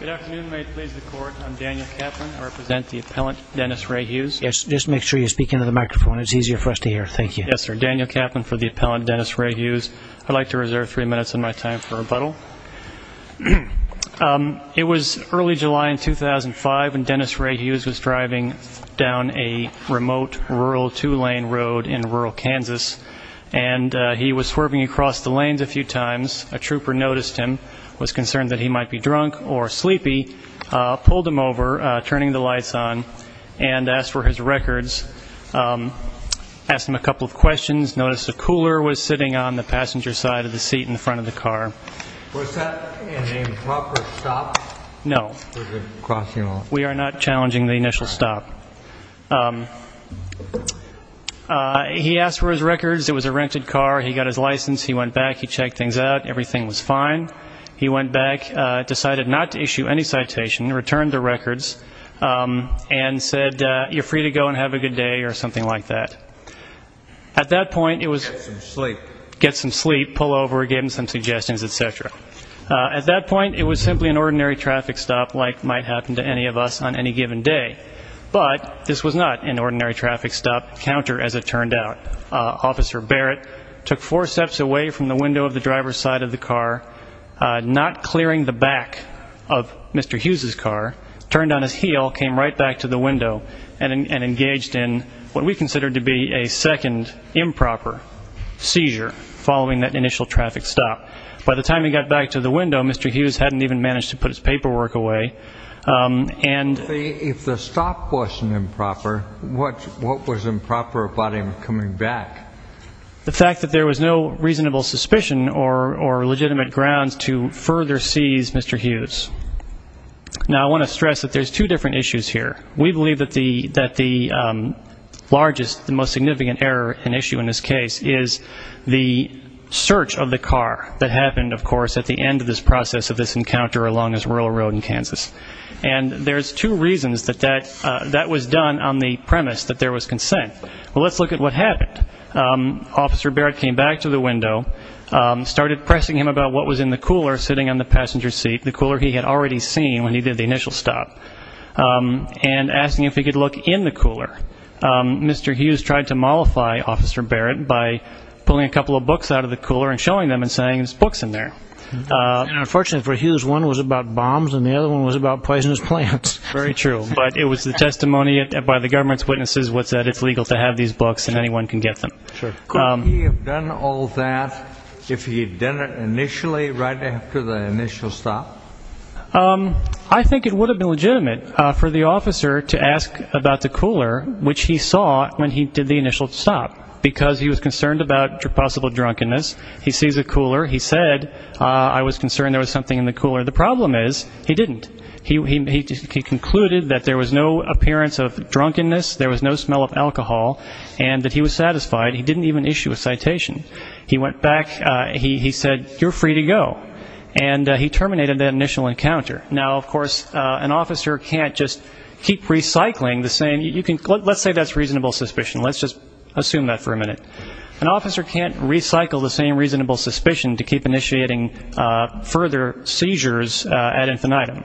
Good afternoon, may it please the court. I'm Daniel Kaplan. I represent the appellant Dennis Ray Hughes. Yes, just make sure you speak into the microphone. It's easier for us to hear. Thank you. Yes, sir. Daniel Kaplan for the appellant Dennis Ray Hughes. I'd like to reserve three minutes of my time for rebuttal. It was early July in 2005 when Dennis Ray Hughes was driving down a remote rural two-lane road in rural Kansas, and he was swerving across the lanes a few times. A trooper noticed him, was concerned that he might be drunk or sleepy, pulled him over, turning the lights on, and asked for his records, asked him a couple of questions, noticed the cooler was sitting on the passenger side of the seat in front of the car. Was that an improper stop? No. Was it crossing off? We are not challenging the initial stop. He asked for his records. It was a rented car. He got his license. He went back. He checked things out. Everything was fine. He went back, decided not to issue any citation, returned the records, and said, you're free to go and have a good day or something like that. At that point, it was... Get some sleep. Get some sleep, pull over, give him some suggestions, et cetera. At that point, it was simply an ordinary traffic stop like might happen to any of us on any given day. But this was not an ordinary traffic stop counter as it turned out. Officer Barrett took four steps away from the window of the driver's side of the car, not clearing the back of Mr. Hughes' car, turned on his heel, came right back to the window, and engaged in what we considered to be a second improper seizure following that initial traffic stop. By the time he got back to the window, Mr. Hughes hadn't even managed to put his paperwork away. If the stop wasn't improper, what was improper about him coming back? The fact that there was no reasonable suspicion or legitimate grounds to further seize Mr. Hughes. Now, I want to stress that there's two different issues here. We believe that the largest, the most significant error and issue in this case is the search of the car that happened, of course, at the end of this process of this encounter along this rural road in Kansas. And there's two reasons that that was done on the premise that there was consent. Let's look at what happened. Officer Barrett came back to the window, started pressing him about what was in the cooler sitting on the passenger seat, the cooler he had already seen when he did the initial stop, and asking if he could look in the cooler. Mr. Hughes tried to mollify Officer Barrett by pulling a couple of books out of the cooler and showing them and saying there's books in there. And unfortunately for Hughes, one was about bombs and the other one was about poisonous plants. Very true. But it was the testimony by the government's witnesses was that it's legal to have these books and anyone can get them. Could he have done all that if he had done it initially right after the initial stop? I think it would have been legitimate for the officer to ask about the cooler, which he saw when he did the initial stop, because he was concerned about possible drunkenness. He sees a cooler. He said, I was concerned there was something in the cooler. The problem is he didn't. He concluded that there was no appearance of drunkenness, there was no smell of alcohol, and that he was satisfied. He didn't even issue a citation. He went back. He said, you're free to go. And he terminated that initial encounter. Now, of course, an officer can't just keep recycling the same. Let's say that's reasonable suspicion. Let's just assume that for a minute. An officer can't recycle the same reasonable suspicion to keep initiating further seizures ad infinitum.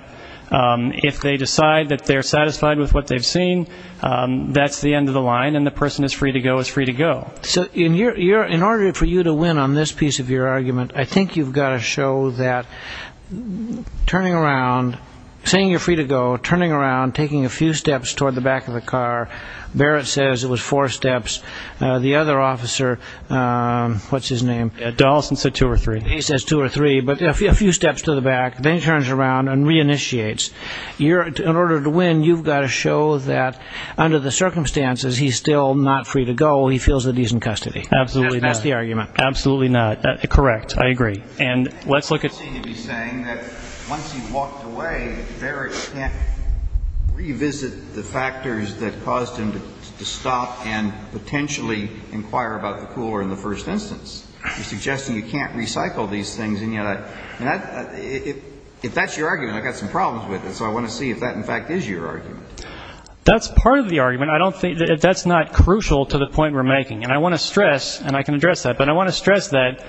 If they decide that they're satisfied with what they've seen, that's the end of the line, and the person is free to go is free to go. So in order for you to win on this piece of your argument, I think you've got to show that turning around, saying you're free to go, turning around, taking a few steps toward the back of the car. Barrett says it was four steps. The other officer, what's his name? Dawson said two or three. He says two or three, but a few steps to the back. Then he turns around and reinitiates. In order to win, you've got to show that under the circumstances he's still not free to go, he feels that he's in custody. Absolutely not. That's the argument. Absolutely not. Correct. I agree. You seem to be saying that once he walked away, Barrett can't revisit the factors that caused him to stop and potentially inquire about the cooler in the first instance. You're suggesting you can't recycle these things. And yet, if that's your argument, I've got some problems with it. So I want to see if that, in fact, is your argument. That's part of the argument. I don't think that's not crucial to the point we're making. And I want to stress, and I can address that. But I want to stress that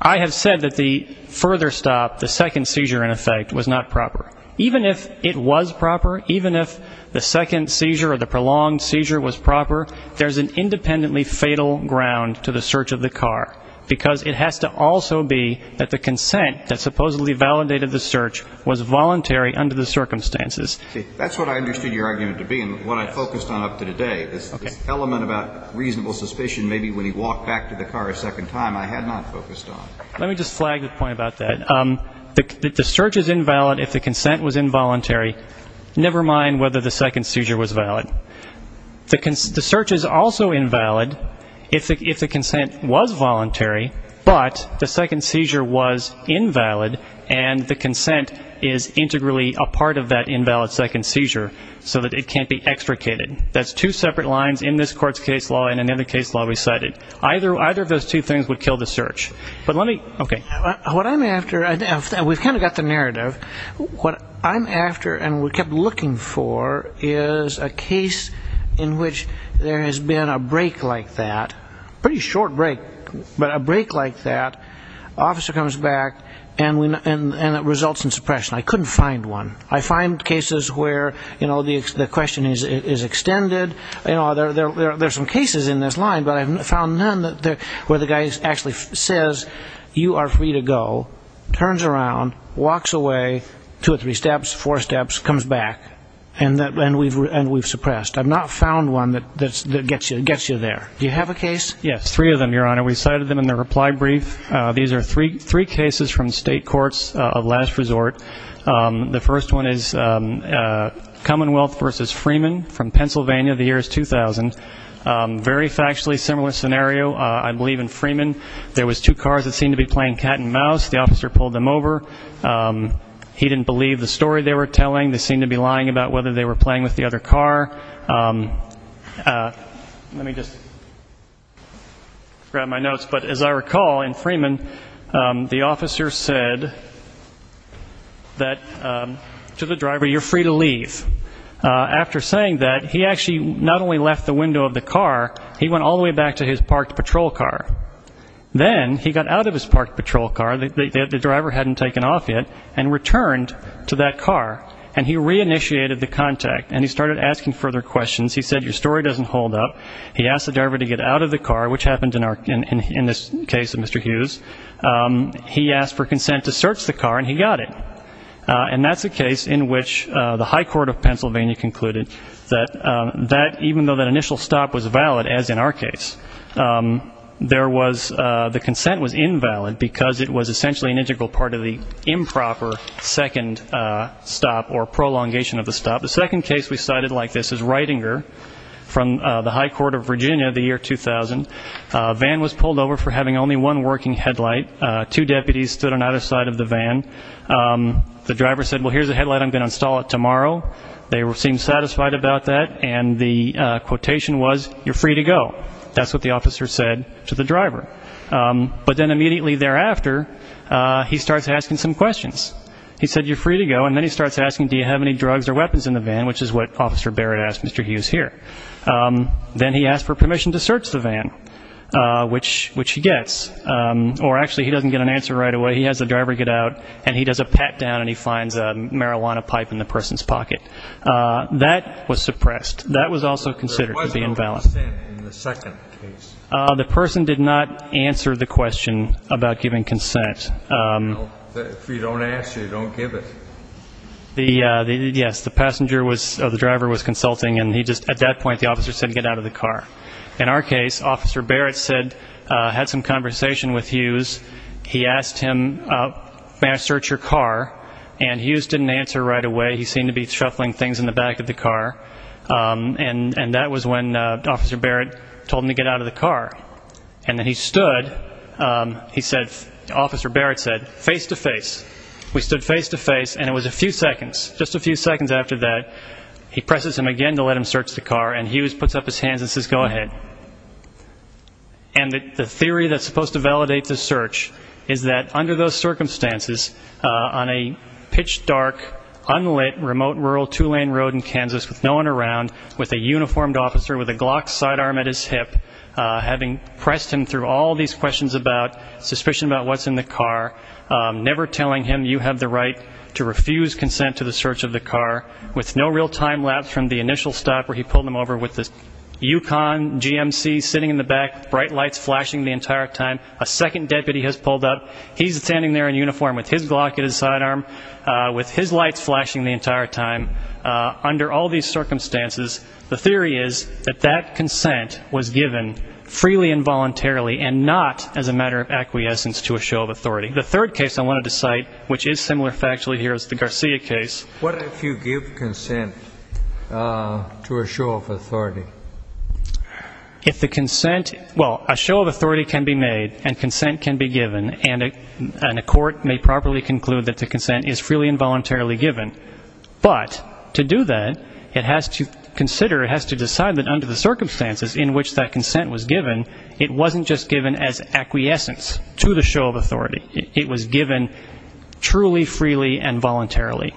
I have said that the further stop, the second seizure, in effect, was not proper. Even if it was proper, even if the second seizure or the prolonged seizure was proper, there's an independently fatal ground to the search of the car, because it has to also be that the consent that supposedly validated the search was voluntary under the circumstances. See, that's what I understood your argument to be and what I focused on up to today, this element about reasonable suspicion maybe when he walked back to the car a second time I had not focused on. Let me just flag the point about that. The search is invalid if the consent was involuntary, never mind whether the second seizure was valid. The search is also invalid if the consent was voluntary, but the second seizure was invalid and the consent is integrally a part of that invalid second seizure so that it can't be extricated. That's two separate lines in this court's case law and in the other case law we cited. Either of those two things would kill the search. But let me, okay. What I'm after, and we've kind of got the narrative, what I'm after and we kept looking for is a case in which there has been a break like that, pretty short break, but a break like that, officer comes back and it results in suppression. I couldn't find one. I find cases where, you know, the question is extended, you know, there are some cases in this line, but I haven't found none where the guy actually says, you are free to go, turns around, walks away, two or three steps, four steps, comes back, and we've suppressed. I've not found one that gets you there. Do you have a case? Yes, three of them, Your Honor. We cited them in the reply brief. These are three cases from state courts of last resort. The first one is Commonwealth v. Freeman from Pennsylvania. The year is 2000. Very factually similar scenario. I believe in Freeman there was two cars that seemed to be playing cat and mouse. The officer pulled them over. He didn't believe the story they were telling. They seemed to be lying about whether they were playing with the other car. Let me just grab my notes. But as I recall, in Freeman, the officer said to the driver, you're free to leave. After saying that, he actually not only left the window of the car, he went all the way back to his parked patrol car. Then he got out of his parked patrol car, the driver hadn't taken off yet, and returned to that car, and he reinitiated the contact, and he started asking further questions. He said, your story doesn't hold up. He asked the driver to get out of the car, which happened in this case of Mr. Hughes. He asked for consent to search the car, and he got it. And that's a case in which the high court of Pennsylvania concluded that even though that initial stop was valid, as in our case, the consent was invalid because it was essentially an integral part of the improper second stop or prolongation of the stop. The second case we cited like this is Reitinger from the high court of Virginia, the year 2000. A van was pulled over for having only one working headlight. Two deputies stood on either side of the van. The driver said, well, here's a headlight, I'm going to install it tomorrow. They seemed satisfied about that, and the quotation was, you're free to go. That's what the officer said to the driver. But then immediately thereafter, he starts asking some questions. He said, you're free to go, and then he starts asking, do you have any drugs or weapons in the van, which is what Officer Barrett asked Mr. Hughes here. Then he asked for permission to search the van, which he gets. Or actually, he doesn't get an answer right away. He has the driver get out, and he does a pat down, and he finds a marijuana pipe in the person's pocket. That was suppressed. That was also considered to be invalid. Why is there no consent in the second case? The person did not answer the question about giving consent. If you don't answer, you don't give it. Yes, the driver was consulting, and at that point the officer said get out of the car. In our case, Officer Barrett had some conversation with Hughes. He asked him, may I search your car, and Hughes didn't answer right away. He seemed to be shuffling things in the back of the car, and that was when Officer Barrett told him to get out of the car. And then he stood, he said, Officer Barrett said, face to face. We stood face to face, and it was a few seconds. Just a few seconds after that, he presses him again to let him search the car, and Hughes puts up his hands and says go ahead. And the theory that's supposed to validate the search is that under those circumstances, on a pitch dark, unlit, remote rural two-lane road in Kansas with no one around, with a uniformed officer with a Glock sidearm at his hip, having pressed him through all these questions about suspicion about what's in the car, never telling him you have the right to refuse consent to the search of the car, with no real time lapse from the initial stop where he pulled him over with the UConn GMC sitting in the back, bright lights flashing the entire time. A second deputy has pulled up. He's standing there in uniform with his Glock at his sidearm, with his lights flashing the entire time. Under all these circumstances, the theory is that that consent was given freely and voluntarily and not as a matter of acquiescence to a show of authority. The third case I wanted to cite, which is similar factually here as the Garcia case. What if you give consent to a show of authority? If the consent, well, a show of authority can be made and consent can be given, and a court may properly conclude that the consent is freely and voluntarily given, but to do that, it has to consider, it has to decide that under the circumstances in which that consent was given, it wasn't just given as acquiescence to the show of authority. It was given truly, freely, and voluntarily.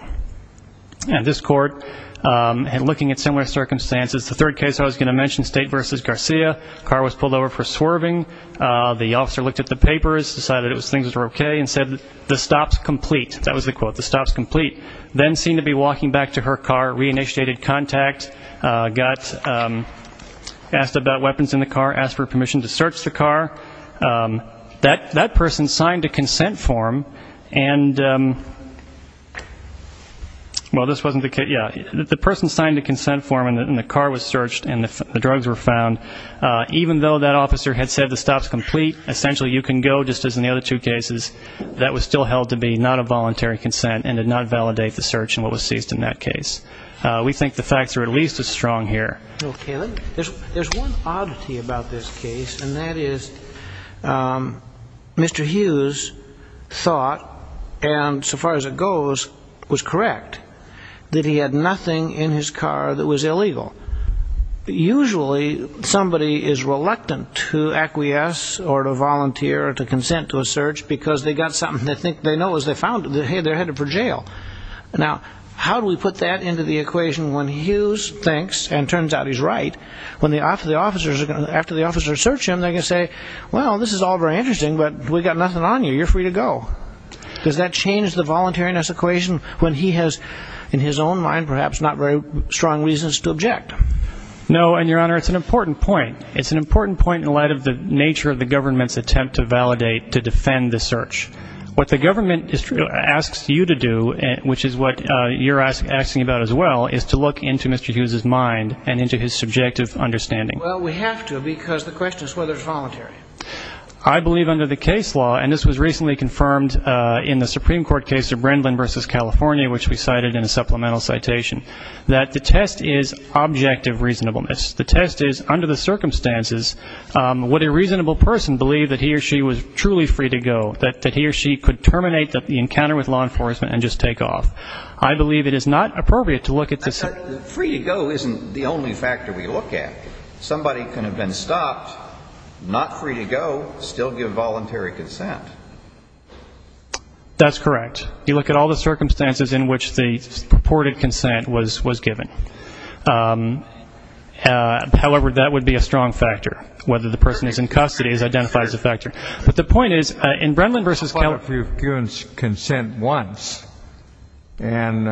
And this court, looking at similar circumstances, the third case I was going to mention, State v. Garcia, the car was pulled over for swerving. The officer looked at the papers, decided things were okay, and said, the stop's complete. That was the quote, the stop's complete. Then seemed to be walking back to her car, re-initiated contact, got asked about weapons in the car, asked for permission to search the car. That person signed a consent form and, well, this wasn't the case. Yeah, the person signed a consent form and the car was searched and the drugs were found. Even though that officer had said the stop's complete, essentially you can go just as in the other two cases, that was still held to be not a voluntary consent and did not validate the search and what was seized in that case. We think the facts are at least as strong here. Okay. There's one oddity about this case, and that is Mr. Hughes thought, and so far as it goes, was correct, that he had nothing in his car that was illegal. Usually somebody is reluctant to acquiesce or to volunteer or to consent to a search because they got something they think they know as they found it. Hey, they're headed for jail. Now, how do we put that into the equation when Hughes thinks, and turns out he's right, when the officers, after the officers search him, they're going to say, well, this is all very interesting, but we got nothing on you. You're free to go. Does that change the voluntariness equation when he has, in his own mind perhaps, not very strong reasons to object? No, and, Your Honor, it's an important point. It's an important point in light of the nature of the government's attempt to validate, to defend the search. What the government asks you to do, which is what you're asking about as well, is to look into Mr. Hughes' mind and into his subjective understanding. I believe under the case law, and this was recently confirmed in the Supreme Court case of Brindlin v. California, which we cited in a supplemental citation, that the test is objective reasonableness. The test is, under the circumstances, would a reasonable person believe that he or she was truly free to go, that he or she could terminate the encounter with law enforcement and just take off? I believe it is not appropriate to look at this. Free to go isn't the only factor we look at. Somebody can have been stopped, not free to go, still give voluntary consent. That's correct. You look at all the circumstances in which the purported consent was given. However, that would be a strong factor. Whether the person is in custody is identified as a factor. But the point is, in Brindlin v. California --- I thought it was consent once, and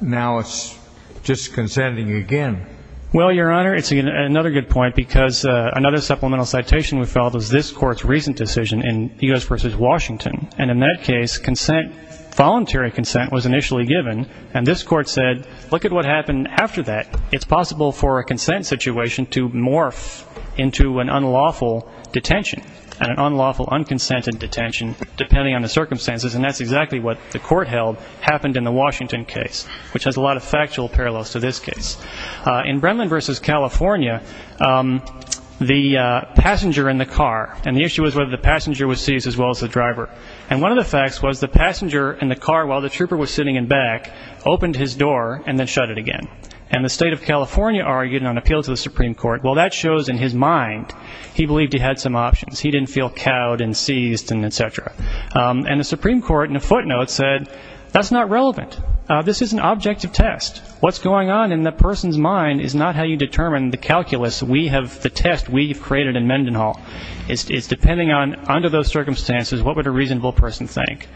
now it's just consenting again. Well, Your Honor, it's another good point, because another supplemental citation we filed was this court's recent decision in U.S. v. Washington. And in that case, consent, voluntary consent, was initially given. And this court said, look at what happened after that. It's possible for a consent situation to morph into an unlawful detention, an unlawful, unconsented detention, depending on the circumstances. And that's exactly what the court held happened in the Washington case, which has a lot of factual parallels to this case. In Brindlin v. California, the passenger in the car, and the issue was whether the passenger was seized as well as the driver. And one of the facts was the passenger in the car, while the trooper was sitting in back, opened his door and then shut it again. And the state of California argued on appeal to the Supreme Court, well, that shows in his mind he believed he had some options. He didn't feel cowed and seized and et cetera. And the Supreme Court, in a footnote, said, that's not relevant. This is an objective test. What's going on in the person's mind is not how you determine the calculus, the test we've created in Mendenhall. It's depending on, under those circumstances, what would a reasonable person think,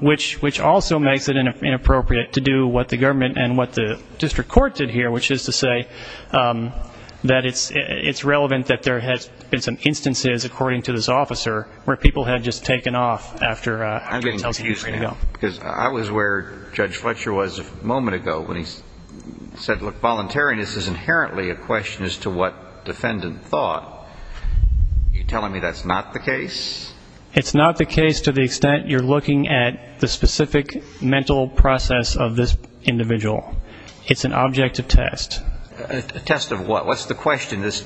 which also makes it inappropriate to do what the government and what the district court did here, which is to say that it's relevant that there has been some instances, according to this officer, where people have just taken off after a detention. I was where Judge Fletcher was a moment ago when he said, look, voluntariness is inherently a question as to what defendant thought. Are you telling me that's not the case? It's not the case to the extent you're looking at the specific mental process of this individual. It's an objective test. A test of what? What's the question this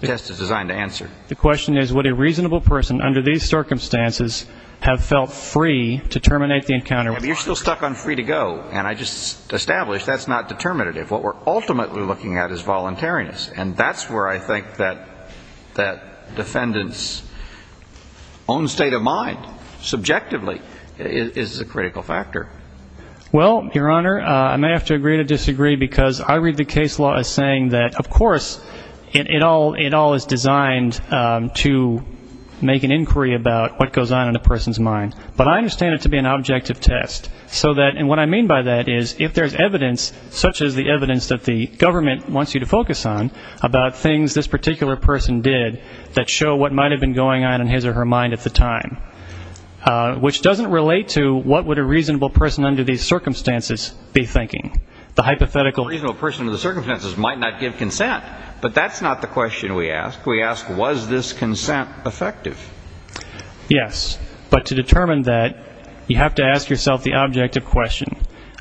test is designed to answer? The question is, would a reasonable person, under these circumstances, have felt free to terminate the encounter? You're still stuck on free to go, and I just established that's not determinative. What we're ultimately looking at is voluntariness, and that's where I think that defendant's own state of mind, subjectively, is a critical factor. Well, Your Honor, I may have to agree to disagree because I read the case law as saying that, of course, it all is designed to make an inquiry about what goes on in a person's mind. But I understand it to be an objective test so that, and what I mean by that is, if there's evidence, such as the evidence that the government wants you to focus on, about things this particular person did that show what might have been going on in his or her mind at the time, which doesn't relate to what would a reasonable person under these circumstances be thinking. A reasonable person under the circumstances might not give consent. But that's not the question we ask. We ask, was this consent effective? Yes. But to determine that, you have to ask yourself the objective question.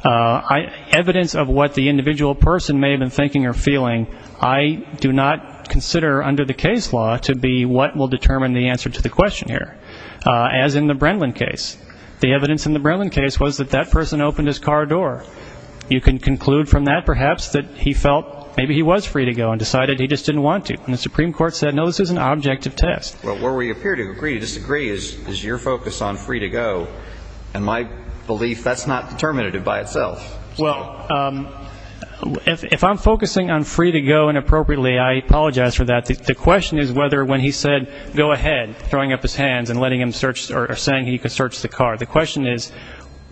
Evidence of what the individual person may have been thinking or feeling, I do not consider under the case law to be what will determine the answer to the question here, as in the Brenlin case. The evidence in the Brenlin case was that that person opened his car door. You can conclude from that, perhaps, that he felt maybe he was free to go and decided he just didn't want to. And the Supreme Court said, no, this is an objective test. Well, where we appear to agree to disagree is your focus on free to go. And my belief, that's not determinative by itself. Well, if I'm focusing on free to go inappropriately, I apologize for that. The question is whether when he said, go ahead, throwing up his hands and letting him search or saying he could search the car, the question is,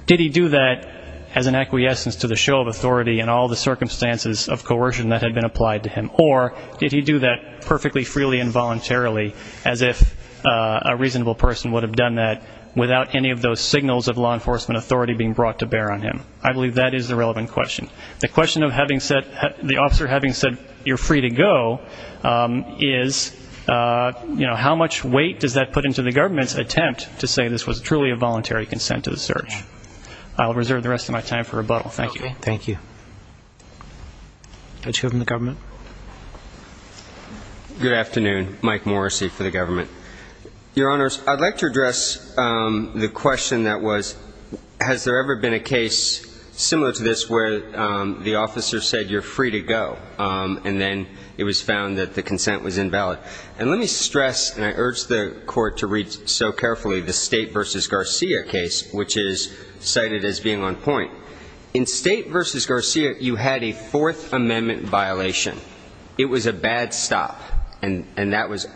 did he do that as an acquiescence to the show of authority and all the circumstances of coercion that had been applied to him? Or did he do that perfectly freely and voluntarily as if a reasonable person would have done that without any of those signals of law enforcement authority being brought to bear on him? I believe that is the relevant question. The question of the officer having said, you're free to go, is, you know, how much weight does that put into the government's attempt to say this was truly a voluntary consent to the search? I'll reserve the rest of my time for rebuttal. Thank you. Thank you. Judge Hill from the government. Good afternoon. Mike Morrissey for the government. Your Honors, I'd like to address the question that was, has there ever been a case similar to this where the officer said, you're free to go, and then it was found that the consent was invalid? And let me stress, and I urge the Court to read so carefully, the State v. Garcia case, which is cited as being on point. In State v. Garcia, you had a Fourth Amendment violation. It was a bad stop, and that was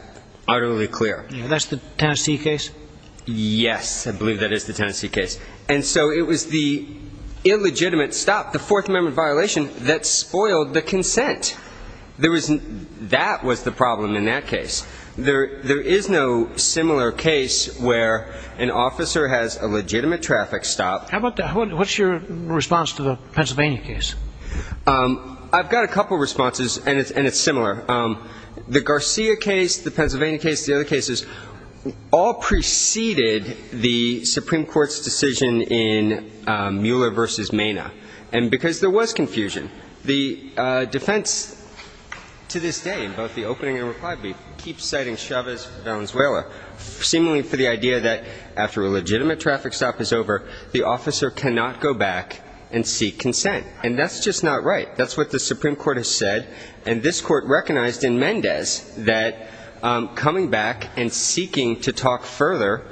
utterly clear. That's the Tennessee case? Yes, I believe that is the Tennessee case. And so it was the illegitimate stop, the Fourth Amendment violation, that spoiled the consent. That was the problem in that case. There is no similar case where an officer has a legitimate traffic stop. What's your response to the Pennsylvania case? I've got a couple of responses, and it's similar. The Garcia case, the Pennsylvania case, the other cases, all preceded the Supreme Court's decision in Mueller v. Mena because there was confusion. The defense to this day, in both the opening and reply brief, keeps citing Chavez-Valenzuela, seemingly for the idea that after a legitimate traffic stop is over, the officer cannot go back and seek consent. And that's just not right. That's what the Supreme Court has said. And this Court recognized in Mendez that coming back and seeking to talk further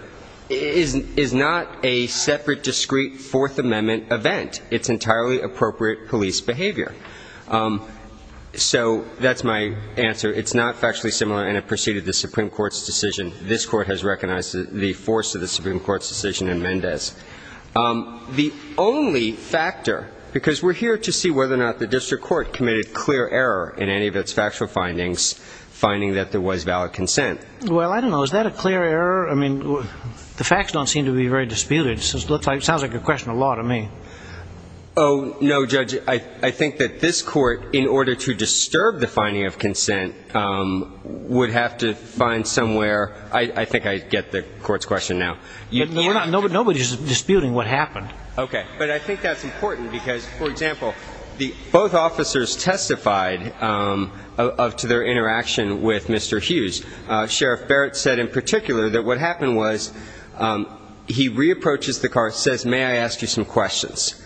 is not a separate, discreet Fourth Amendment event. It's entirely appropriate police behavior. So that's my answer. It's not factually similar, and it preceded the Supreme Court's decision. This Court has recognized the force of the Supreme Court's decision in Mendez. The only factor, because we're here to see whether or not the district court committed clear error in any of its factual findings, finding that there was valid consent. Well, I don't know. Is that a clear error? I mean, the facts don't seem to be very disputed. It sounds like a question of law to me. Oh, no, Judge. I think that this Court, in order to disturb the finding of consent, would have to find somewhere. I think I get the Court's question now. Nobody's disputing what happened. Okay. But I think that's important because, for example, both officers testified to their interaction with Mr. Hughes. Sheriff Barrett said in particular that what happened was he re-approaches the car, says, May I ask you some questions?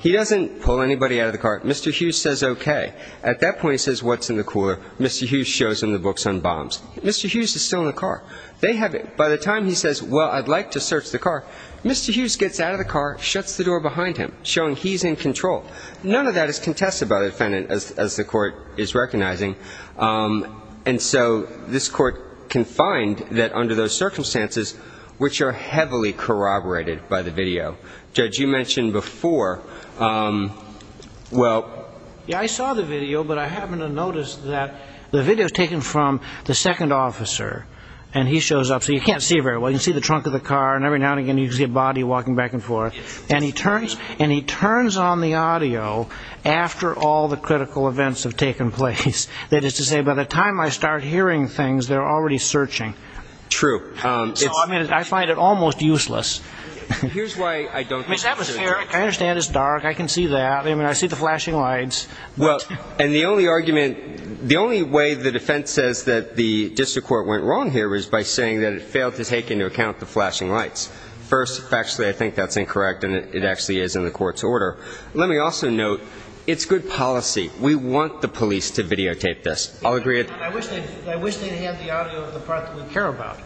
He doesn't pull anybody out of the car. Mr. Hughes says okay. At that point, he says, What's in the cooler? Mr. Hughes shows him the books on bombs. Mr. Hughes is still in the car. They have it. By the time he says, Well, I'd like to search the car, Mr. Hughes gets out of the car, shuts the door behind him, showing he's in control. None of that is contested by the defendant, as the Court is recognizing. And so this Court can find that under those circumstances, which are heavily corroborated by the video. Judge, you mentioned before. Well, I saw the video, but I happened to notice that the video was taken from the second officer, and he shows up. So you can't see very well. You can see the trunk of the car, and every now and again you can see a body walking back and forth. And he turns on the audio after all the critical events have taken place. That is to say, by the time I start hearing things, they're already searching. True. So I find it almost useless. Here's why I don't think that's fair. I understand it's dark. I can see that. I mean, I see the flashing lights. Well, and the only argument, the only way the defense says that the district court went wrong here is by saying that it failed to take into account the flashing lights. First, actually, I think that's incorrect, and it actually is in the Court's order. Let me also note, it's good policy. We want the police to videotape this. I'll agree with that. I wish they'd have the audio of the part that we care about.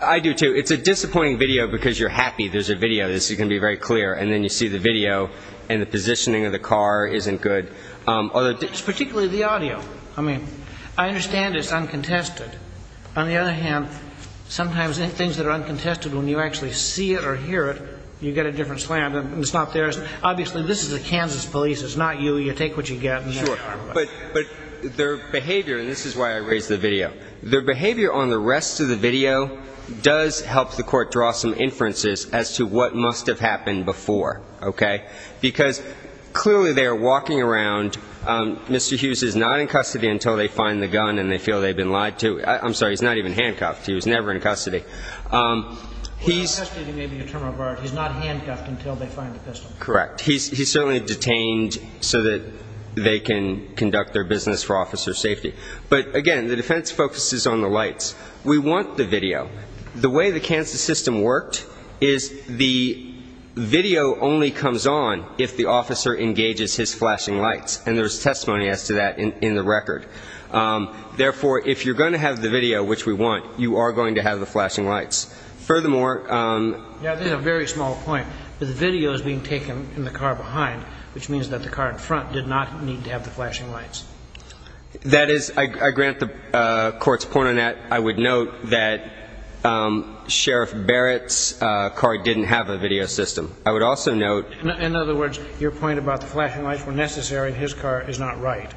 I do, too. It's a disappointing video because you're happy there's a video. This is going to be very clear. And then you see the video, and the positioning of the car isn't good. Particularly the audio. I mean, I understand it's uncontested. On the other hand, sometimes things that are uncontested, when you actually see it or hear it, you get a different slam, and it's not theirs. Obviously, this is a Kansas police. It's not you. You take what you get. But their behavior, and this is why I raised the video, their behavior on the rest of the video does help the Court draw some inferences as to what must have happened before. Okay? Because clearly they are walking around. Mr. Hughes is not in custody until they find the gun and they feel they've been lied to. I'm sorry. He's not even handcuffed. He was never in custody. He's not handcuffed until they find the pistol. Correct. He's certainly detained so that they can conduct their business for officer safety. But, again, the defense focuses on the lights. We want the video. The way the Kansas system worked is the video only comes on if the officer engages his flashing lights, and there's testimony as to that in the record. Therefore, if you're going to have the video, which we want, you are going to have the flashing lights. Furthermore, Yeah, there's a very small point. The video is being taken in the car behind, which means that the car in front did not need to have the flashing lights. That is, I grant the court's point on that. I would note that Sheriff Barrett's car didn't have a video system. I would also note. In other words, your point about the flashing lights were necessary and his car is not right,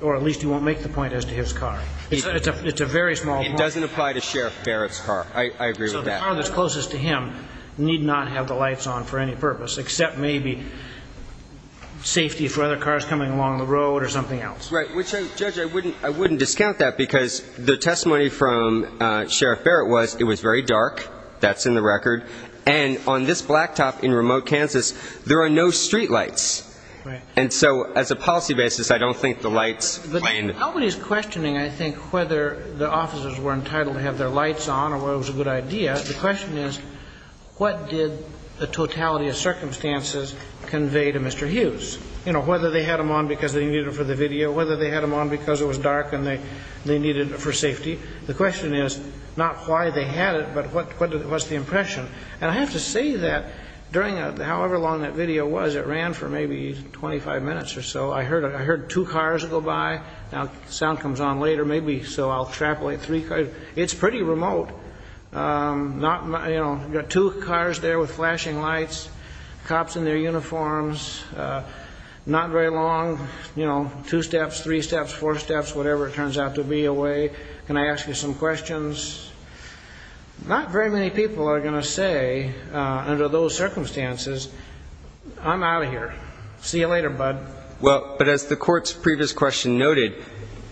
or at least you won't make the point as to his car. It's a very small point. It doesn't apply to Sheriff Barrett's car. I agree with that. So the car that's closest to him need not have the lights on for any purpose except maybe safety for other cars coming along the road or something else. Right, which, Judge, I wouldn't discount that because the testimony from Sheriff Barrett was it was very dark. That's in the record. And on this blacktop in remote Kansas, there are no street lights. Right. And so as a policy basis, I don't think the lights. But nobody's questioning, I think, whether the officers were entitled to have their lights on or whether it was a good idea. The question is, what did the totality of circumstances convey to Mr. Hughes? You know, whether they had them on because they needed them for the video, whether they had them on because it was dark and they needed it for safety. The question is not why they had it, but what was the impression. And I have to say that during however long that video was, it ran for maybe 25 minutes or so. I heard two cars go by. Now the sound comes on later, maybe, so I'll extrapolate three cars. It's pretty remote. You know, got two cars there with flashing lights, cops in their uniforms, not very long, you know, two steps, three steps, four steps, whatever it turns out to be away. Can I ask you some questions? Not very many people are going to say under those circumstances, I'm out of here. See you later, bud. Well, but as the court's previous question noted,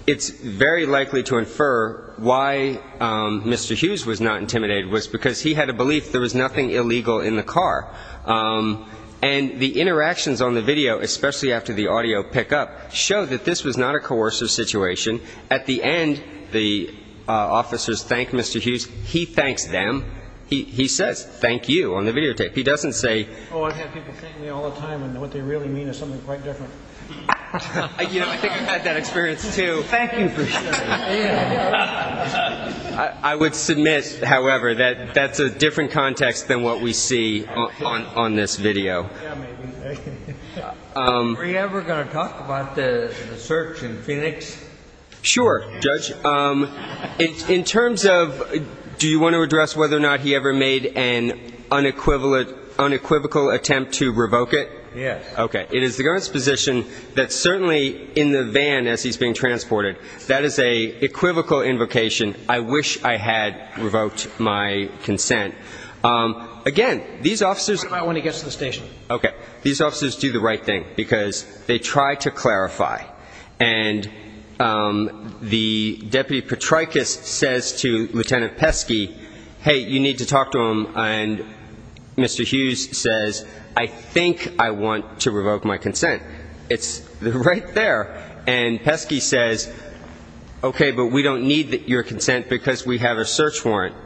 it's very likely to infer why Mr. Hughes was not intimidated was because he had a belief there was nothing illegal in the car. And the interactions on the video, especially after the audio pickup, show that this was not a coercive situation. At the end, the officers thanked Mr. Hughes. He thanks them. He says thank you on the videotape. Oh, I've had people thank me all the time, and what they really mean is something quite different. You know, I think I've had that experience, too. Thank you for saying that. I would submit, however, that that's a different context than what we see on this video. Yeah, maybe. Are you ever going to talk about the search in Phoenix? Sure, Judge. In terms of do you want to address whether or not he ever made an unequivocal attempt to revoke it? Yes. Okay. It is the government's position that certainly in the van as he's being transported, that is an equivocal invocation. I wish I had revoked my consent. Again, these officers do the right thing because they try to clarify. And the Deputy Patrykos says to Lieutenant Pesky, hey, you need to talk to him, and Mr. Hughes says, I think I want to revoke my consent. It's right there. And Pesky says, okay, but we don't need your consent because we have a search warrant.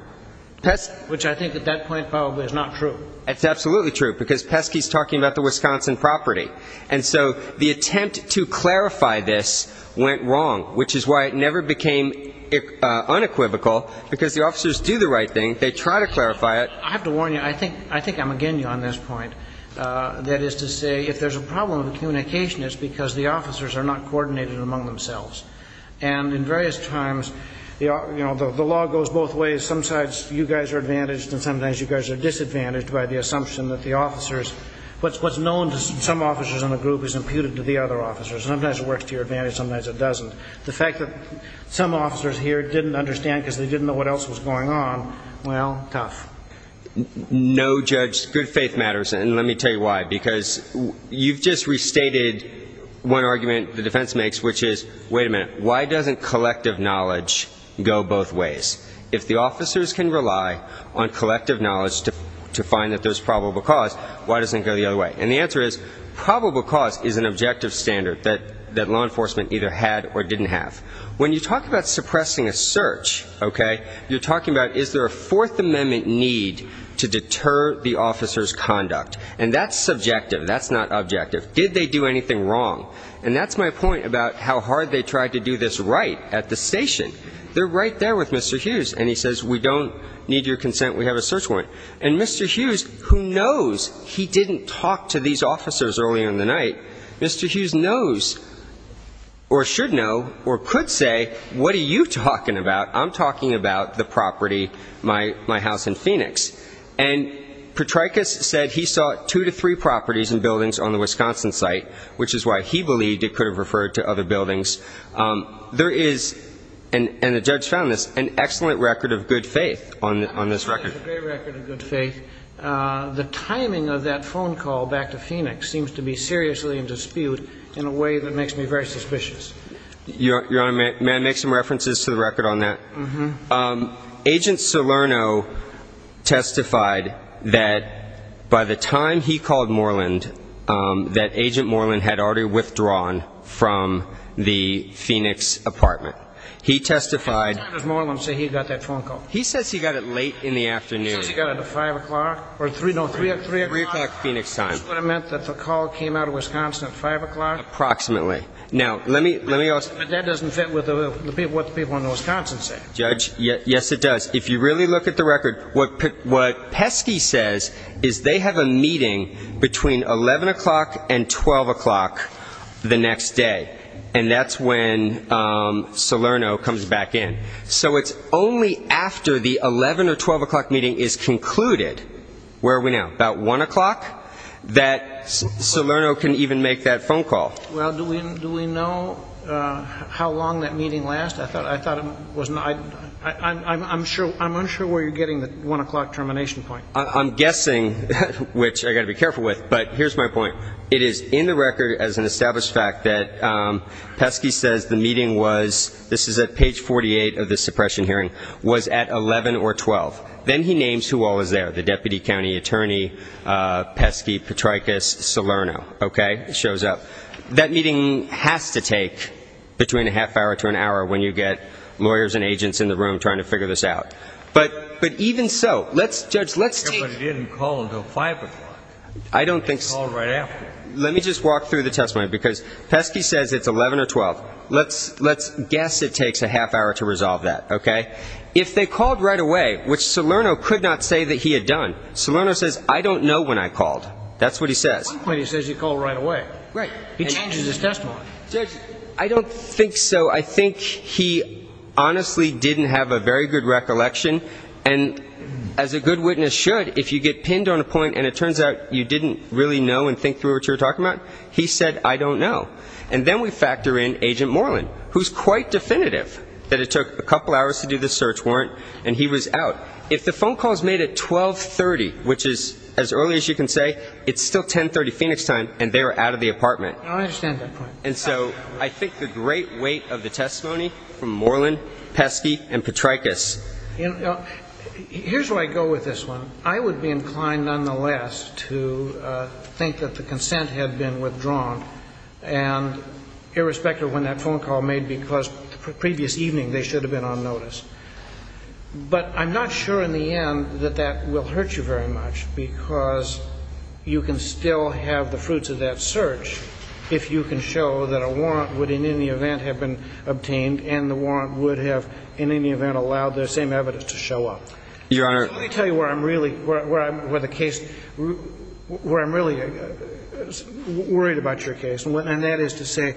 Which I think at that point probably is not true. It's absolutely true because Pesky's talking about the Wisconsin property. And so the attempt to clarify this went wrong, which is why it never became unequivocal, because the officers do the right thing. They try to clarify it. I have to warn you, I think I'm again on this point, that is to say if there's a problem with communication, it's because the officers are not coordinated among themselves. And in various times, you know, the law goes both ways. Sometimes you guys are advantaged and sometimes you guys are disadvantaged by the assumption that the officers, what's known to some officers in the group is imputed to the other officers. Sometimes it works to your advantage, sometimes it doesn't. The fact that some officers here didn't understand because they didn't know what else was going on, well, tough. No, Judge, good faith matters, and let me tell you why. Because you've just restated one argument the defense makes, which is, wait a minute, why doesn't collective knowledge go both ways? If the officers can rely on collective knowledge to find that there's probable cause, why doesn't it go the other way? And the answer is probable cause is an objective standard that law enforcement either had or didn't have. When you talk about suppressing a search, okay, you're talking about is there a Fourth Amendment need to deter the officer's conduct. And that's subjective. That's not objective. Did they do anything wrong? And that's my point about how hard they tried to do this right at the station. They're right there with Mr. Hughes, and he says, we don't need your consent, we have a search warrant. And Mr. Hughes, who knows, he didn't talk to these officers earlier in the night. Mr. Hughes knows or should know or could say, what are you talking about? I'm talking about the property, my house in Phoenix. And Petraecus said he saw two to three properties and buildings on the Wisconsin site, which is why he believed it could have referred to other buildings. There is, and the judge found this, an excellent record of good faith on this record. There's a great record of good faith. The timing of that phone call back to Phoenix seems to be seriously in dispute in a way that makes me very suspicious. Your Honor, may I make some references to the record on that? Mm-hmm. Agent Salerno testified that by the time he called Moreland, that Agent Moreland had already withdrawn from the Phoenix apartment. He testified. What time did Moreland say he got that phone call? He says he got it late in the afternoon. He says he got it at 5 o'clock or 3 o'clock? 3 o'clock Phoenix time. Which would have meant that the call came out of Wisconsin at 5 o'clock? Approximately. Now, let me ask. But that doesn't fit with what the people in Wisconsin said. Judge, yes, it does. If you really look at the record, what Pesky says is they have a meeting between 11 o'clock and 12 o'clock the next day, and that's when Salerno comes back in. So it's only after the 11 or 12 o'clock meeting is concluded, where are we now, about 1 o'clock, that Salerno can even make that phone call. Well, do we know how long that meeting lasted? I'm unsure where you're getting the 1 o'clock termination point. I'm guessing, which I've got to be careful with, but here's my point. It is in the record as an established fact that Pesky says the meeting was, this is at page 48 of the suppression hearing, was at 11 or 12. Then he names who all was there, the deputy county attorney, Pesky, Petrakis, Salerno, okay? It shows up. That meeting has to take between a half hour to an hour when you get lawyers and agents in the room trying to figure this out. But even so, let's, Judge, let's take. But it didn't call until 5 o'clock. I don't think. It called right after. Let me just walk through the testimony, because Pesky says it's 11 or 12. Let's guess it takes a half hour to resolve that, okay? If they called right away, which Salerno could not say that he had done, Salerno says, I don't know when I called. That's what he says. At one point he says he called right away. Right. He changes his testimony. Judge, I don't think so. I think he honestly didn't have a very good recollection, and as a good witness should, if you get pinned on a point and it turns out you didn't really know and think through what you were talking about, he said, I don't know. And then we factor in Agent Moreland, who's quite definitive that it took a couple hours to do the search warrant, and he was out. If the phone call is made at 12.30, which is as early as you can say, it's still 10.30 Phoenix time, and they were out of the apartment. I understand that point. And so I think the great weight of the testimony from Moreland, Pesky, and Petraecus. Here's where I go with this one. I would be inclined nonetheless to think that the consent had been withdrawn, and irrespective of when that phone call was made, because the previous evening they should have been on notice. But I'm not sure in the end that that will hurt you very much because you can still have the fruits of that search if you can show that a warrant would in any event have been obtained and the warrant would have in any event allowed the same evidence to show up. Your Honor. Let me tell you where I'm really worried about your case, and that is to say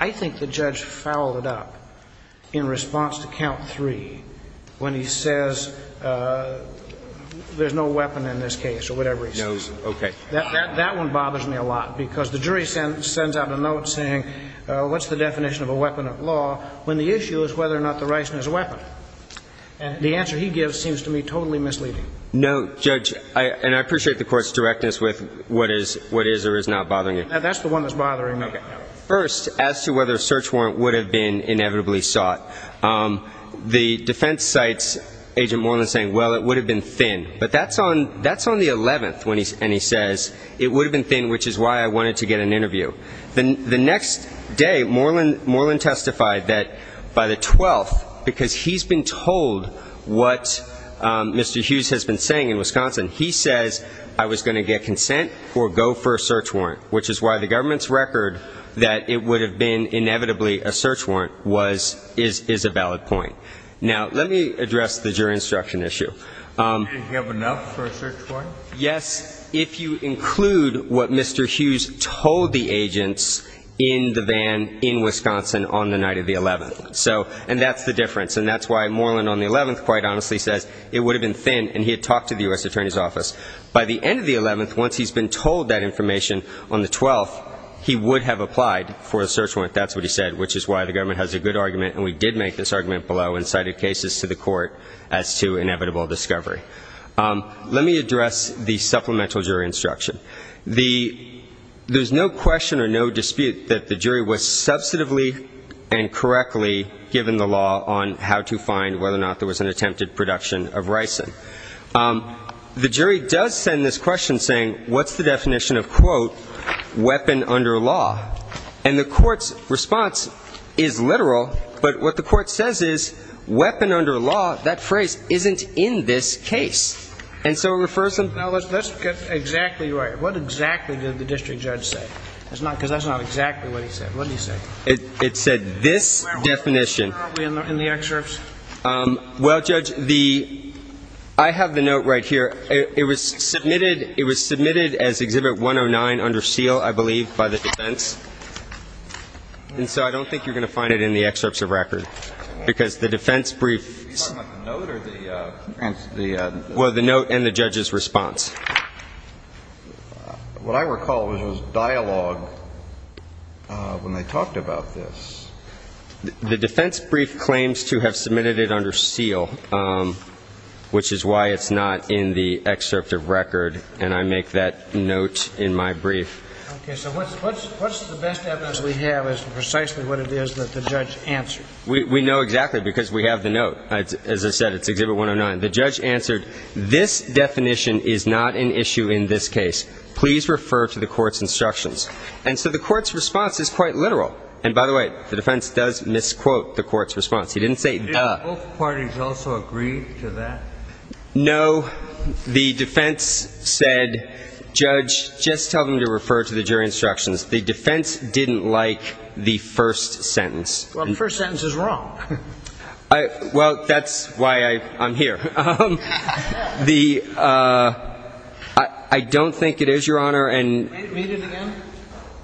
I think the judge fouled it up in response to count three. When he says there's no weapon in this case or whatever he says. No, okay. That one bothers me a lot because the jury sends out a note saying what's the definition of a weapon of law when the issue is whether or not the right is a weapon. And the answer he gives seems to me totally misleading. No, Judge, and I appreciate the court's directness with what is or is not bothering you. That's the one that's bothering me. Okay. First, as to whether a search warrant would have been inevitably sought. The defense cites Agent Moreland saying, well, it would have been thin. But that's on the 11th when he says it would have been thin, which is why I wanted to get an interview. The next day, Moreland testified that by the 12th, because he's been told what Mr. Hughes has been saying in Wisconsin, he says I was going to get consent or go for a search warrant, which is why the government's record that it would have been inevitably a search warrant is a valid point. Now, let me address the jury instruction issue. Do you have enough for a search warrant? Yes, if you include what Mr. Hughes told the agents in the van in Wisconsin on the night of the 11th. And that's the difference, and that's why Moreland on the 11th quite honestly says it would have been thin, and he had talked to the U.S. Attorney's Office. By the end of the 11th, once he's been told that information on the 12th, he would have applied for a search warrant. That's what he said, which is why the government has a good argument, and we did make this argument below and cited cases to the court as to inevitable discovery. Let me address the supplemental jury instruction. There's no question or no dispute that the jury was substantively and correctly given the law on how to find whether or not there was an attempted production of ricin. The jury does send this question saying, what's the definition of, quote, weapon under law? And the court's response is literal, but what the court says is, weapon under law, that phrase isn't in this case. And so it refers to the law. Now, let's get exactly right. What exactly did the district judge say? Because that's not exactly what he said. What did he say? It said this definition. Where are we in the excerpts? Well, Judge, the ‑‑ I have the note right here. It was submitted as Exhibit 109 under seal, I believe, by the defense. And so I don't think you're going to find it in the excerpts of record, because the defense brief ‑‑ Are you talking about the note or the ‑‑ Well, the note and the judge's response. What I recall was there was dialogue when they talked about this. The defense brief claims to have submitted it under seal, which is why it's not in the excerpt of record, and I make that note in my brief. Okay. So what's the best evidence we have as to precisely what it is that the judge answered? We know exactly, because we have the note. As I said, it's Exhibit 109. The judge answered, this definition is not an issue in this case. Please refer to the court's instructions. And so the court's response is quite literal. And, by the way, the defense does misquote the court's response. He didn't say, duh. Did both parties also agree to that? No. The defense said, Judge, just tell them to refer to the jury instructions. The defense didn't like the first sentence. Well, the first sentence is wrong. Well, that's why I'm here. The ‑‑ I don't think it is, Your Honor. Read it again.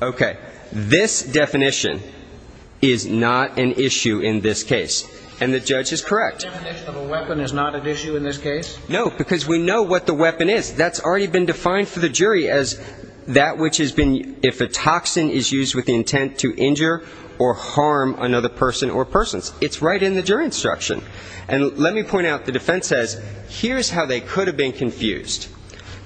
Okay. This definition is not an issue in this case. And the judge is correct. The definition of a weapon is not an issue in this case? No, because we know what the weapon is. That's already been defined for the jury as that which has been, if a toxin is used with the intent to injure or harm another person or persons. It's right in the jury instruction. And let me point out, the defense says, here's how they could have been confused.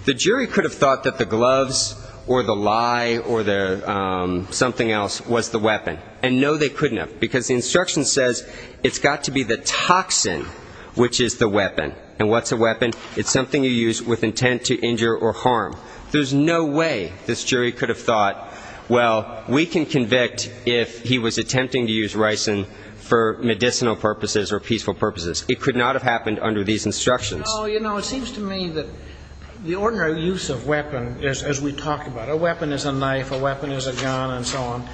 The jury could have thought that the gloves or the lie or the something else was the weapon. And, no, they couldn't have. Because the instruction says it's got to be the toxin which is the weapon. And what's a weapon? It's something you use with intent to injure or harm. There's no way this jury could have thought, well, we can convict if he was attempting to use ricin for medicinal purposes or peaceful purposes. It could not have happened under these instructions. No, you know, it seems to me that the ordinary use of weapon, as we talk about, a weapon is a knife, a weapon is a gun, and so on.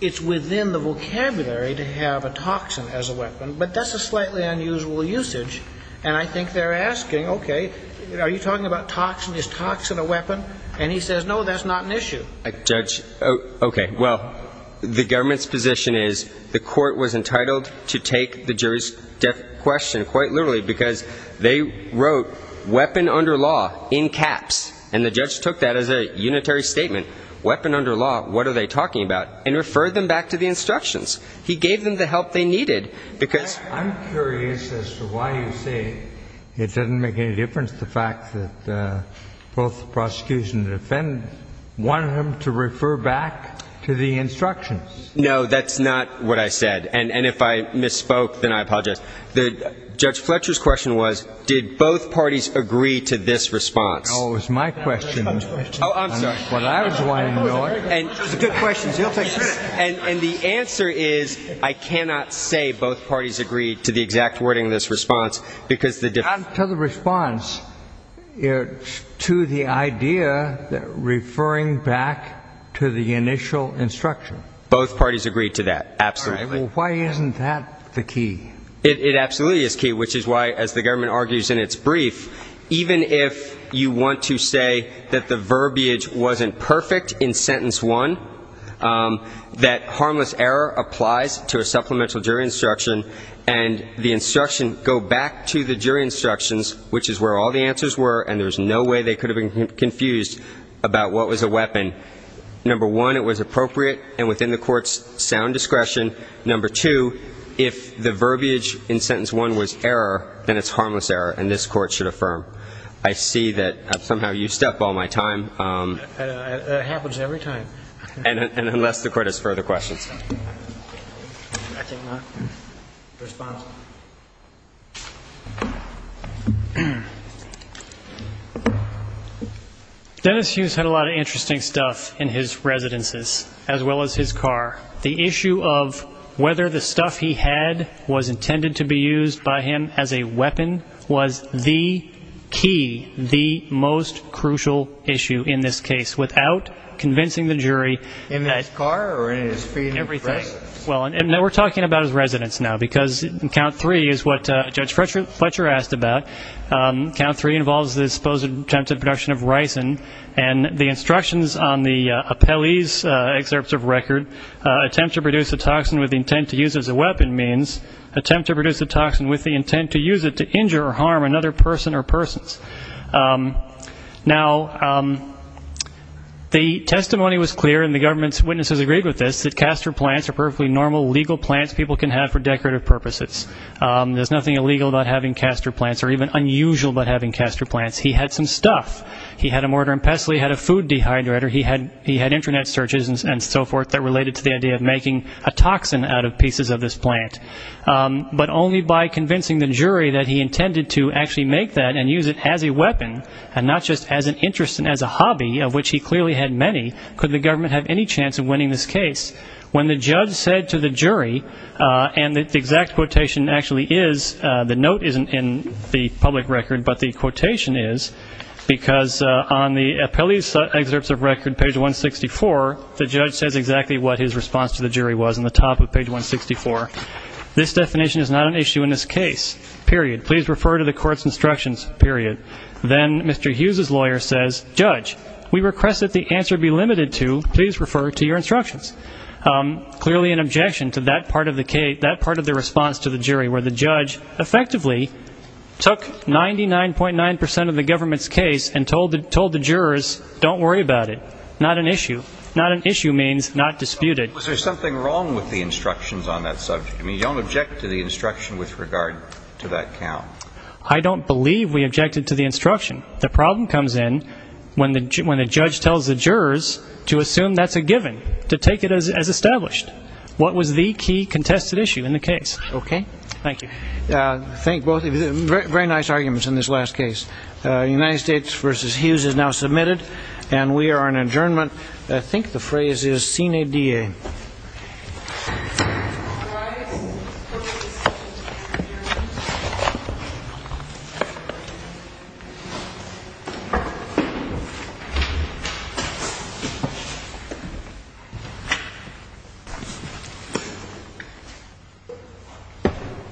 It's within the vocabulary to have a toxin as a weapon. But that's a slightly unusual usage. And I think they're asking, okay, are you talking about toxin? Is toxin a weapon? And he says, no, that's not an issue. Judge, okay, well, the government's position is the court was entitled to take the jury's question quite literally because they wrote weapon under law in caps, and the judge took that as a unitary statement. Weapon under law, what are they talking about? And referred them back to the instructions. He gave them the help they needed. I'm curious as to why you say it doesn't make any difference, the fact that both the prosecution and the defendant wanted him to refer back to the instructions. No, that's not what I said. And if I misspoke, then I apologize. Judge Fletcher's question was, did both parties agree to this response? Oh, it was my question. Oh, I'm sorry. Well, I was the one who knew it. Those are good questions. He'll take credit. And the answer is I cannot say both parties agreed to the exact wording of this response because the difference To the response, to the idea that referring back to the initial instruction. Both parties agreed to that, absolutely. Why isn't that the key? It absolutely is key, which is why, as the government argues in its brief, even if you want to say that the verbiage wasn't perfect in sentence one, that harmless error applies to a supplemental jury instruction, and the instruction go back to the jury instructions, which is where all the answers were, and there's no way they could have been confused about what was a weapon. Number one, it was appropriate and within the court's sound discretion. Number two, if the verbiage in sentence one was error, then it's harmless error, and this court should affirm. I see that somehow you step all my time. It happens every time. And unless the court has further questions. I cannot respond. Dennis Hughes had a lot of interesting stuff in his residences, as well as his car. The issue of whether the stuff he had was intended to be used by him as a weapon was the key, the most crucial issue in this case, without convincing the jury. In his car or in his feet? Everything. Well, and we're talking about his residence now, because in count three is what Judge Fletcher asked about. Count three involves the supposed attempt at production of ricin, and the instructions on the appellee's excerpts of record, attempt to produce a toxin with the intent to use as a weapon means attempt to produce a toxin with the intent to use it to injure or harm another person or persons. Now, the testimony was clear, and the government's witnesses agreed with this, that castor plants are perfectly normal legal plants people can have for decorative purposes. There's nothing illegal about having castor plants, or even unusual about having castor plants. He had some stuff. He had a mortar and pestle. He had a food dehydrator. He had Internet searches and so forth that related to the idea of making a toxin out of pieces of this plant. But only by convincing the jury that he intended to actually make that and use it as a weapon, and not just as an interest and as a hobby, of which he clearly had many, could the government have any chance of winning this case. When the judge said to the jury, and the exact quotation actually is, the note isn't in the public record, but the quotation is, because on the appellee's excerpts of record, page 164, the judge says exactly what his response to the jury was on the top of page 164. This definition is not an issue in this case, period. Please refer to the court's instructions, period. Then Mr. Hughes's lawyer says, judge, we request that the answer be limited to, please refer to your instructions. Clearly an objection to that part of the response to the jury, where the judge effectively took 99.9% of the government's case and told the jurors, don't worry about it. Not an issue. Not an issue means not disputed. Was there something wrong with the instructions on that subject? I mean, you don't object to the instruction with regard to that count. I don't believe we objected to the instruction. The problem comes in when the judge tells the jurors to assume that's a given, to take it as established. What was the key contested issue in the case? Okay. Thank you. Thank both of you. Very nice arguments in this last case. United States v. Hughes is now submitted, and we are on adjournment. I think the phrase is sine die. Thank you.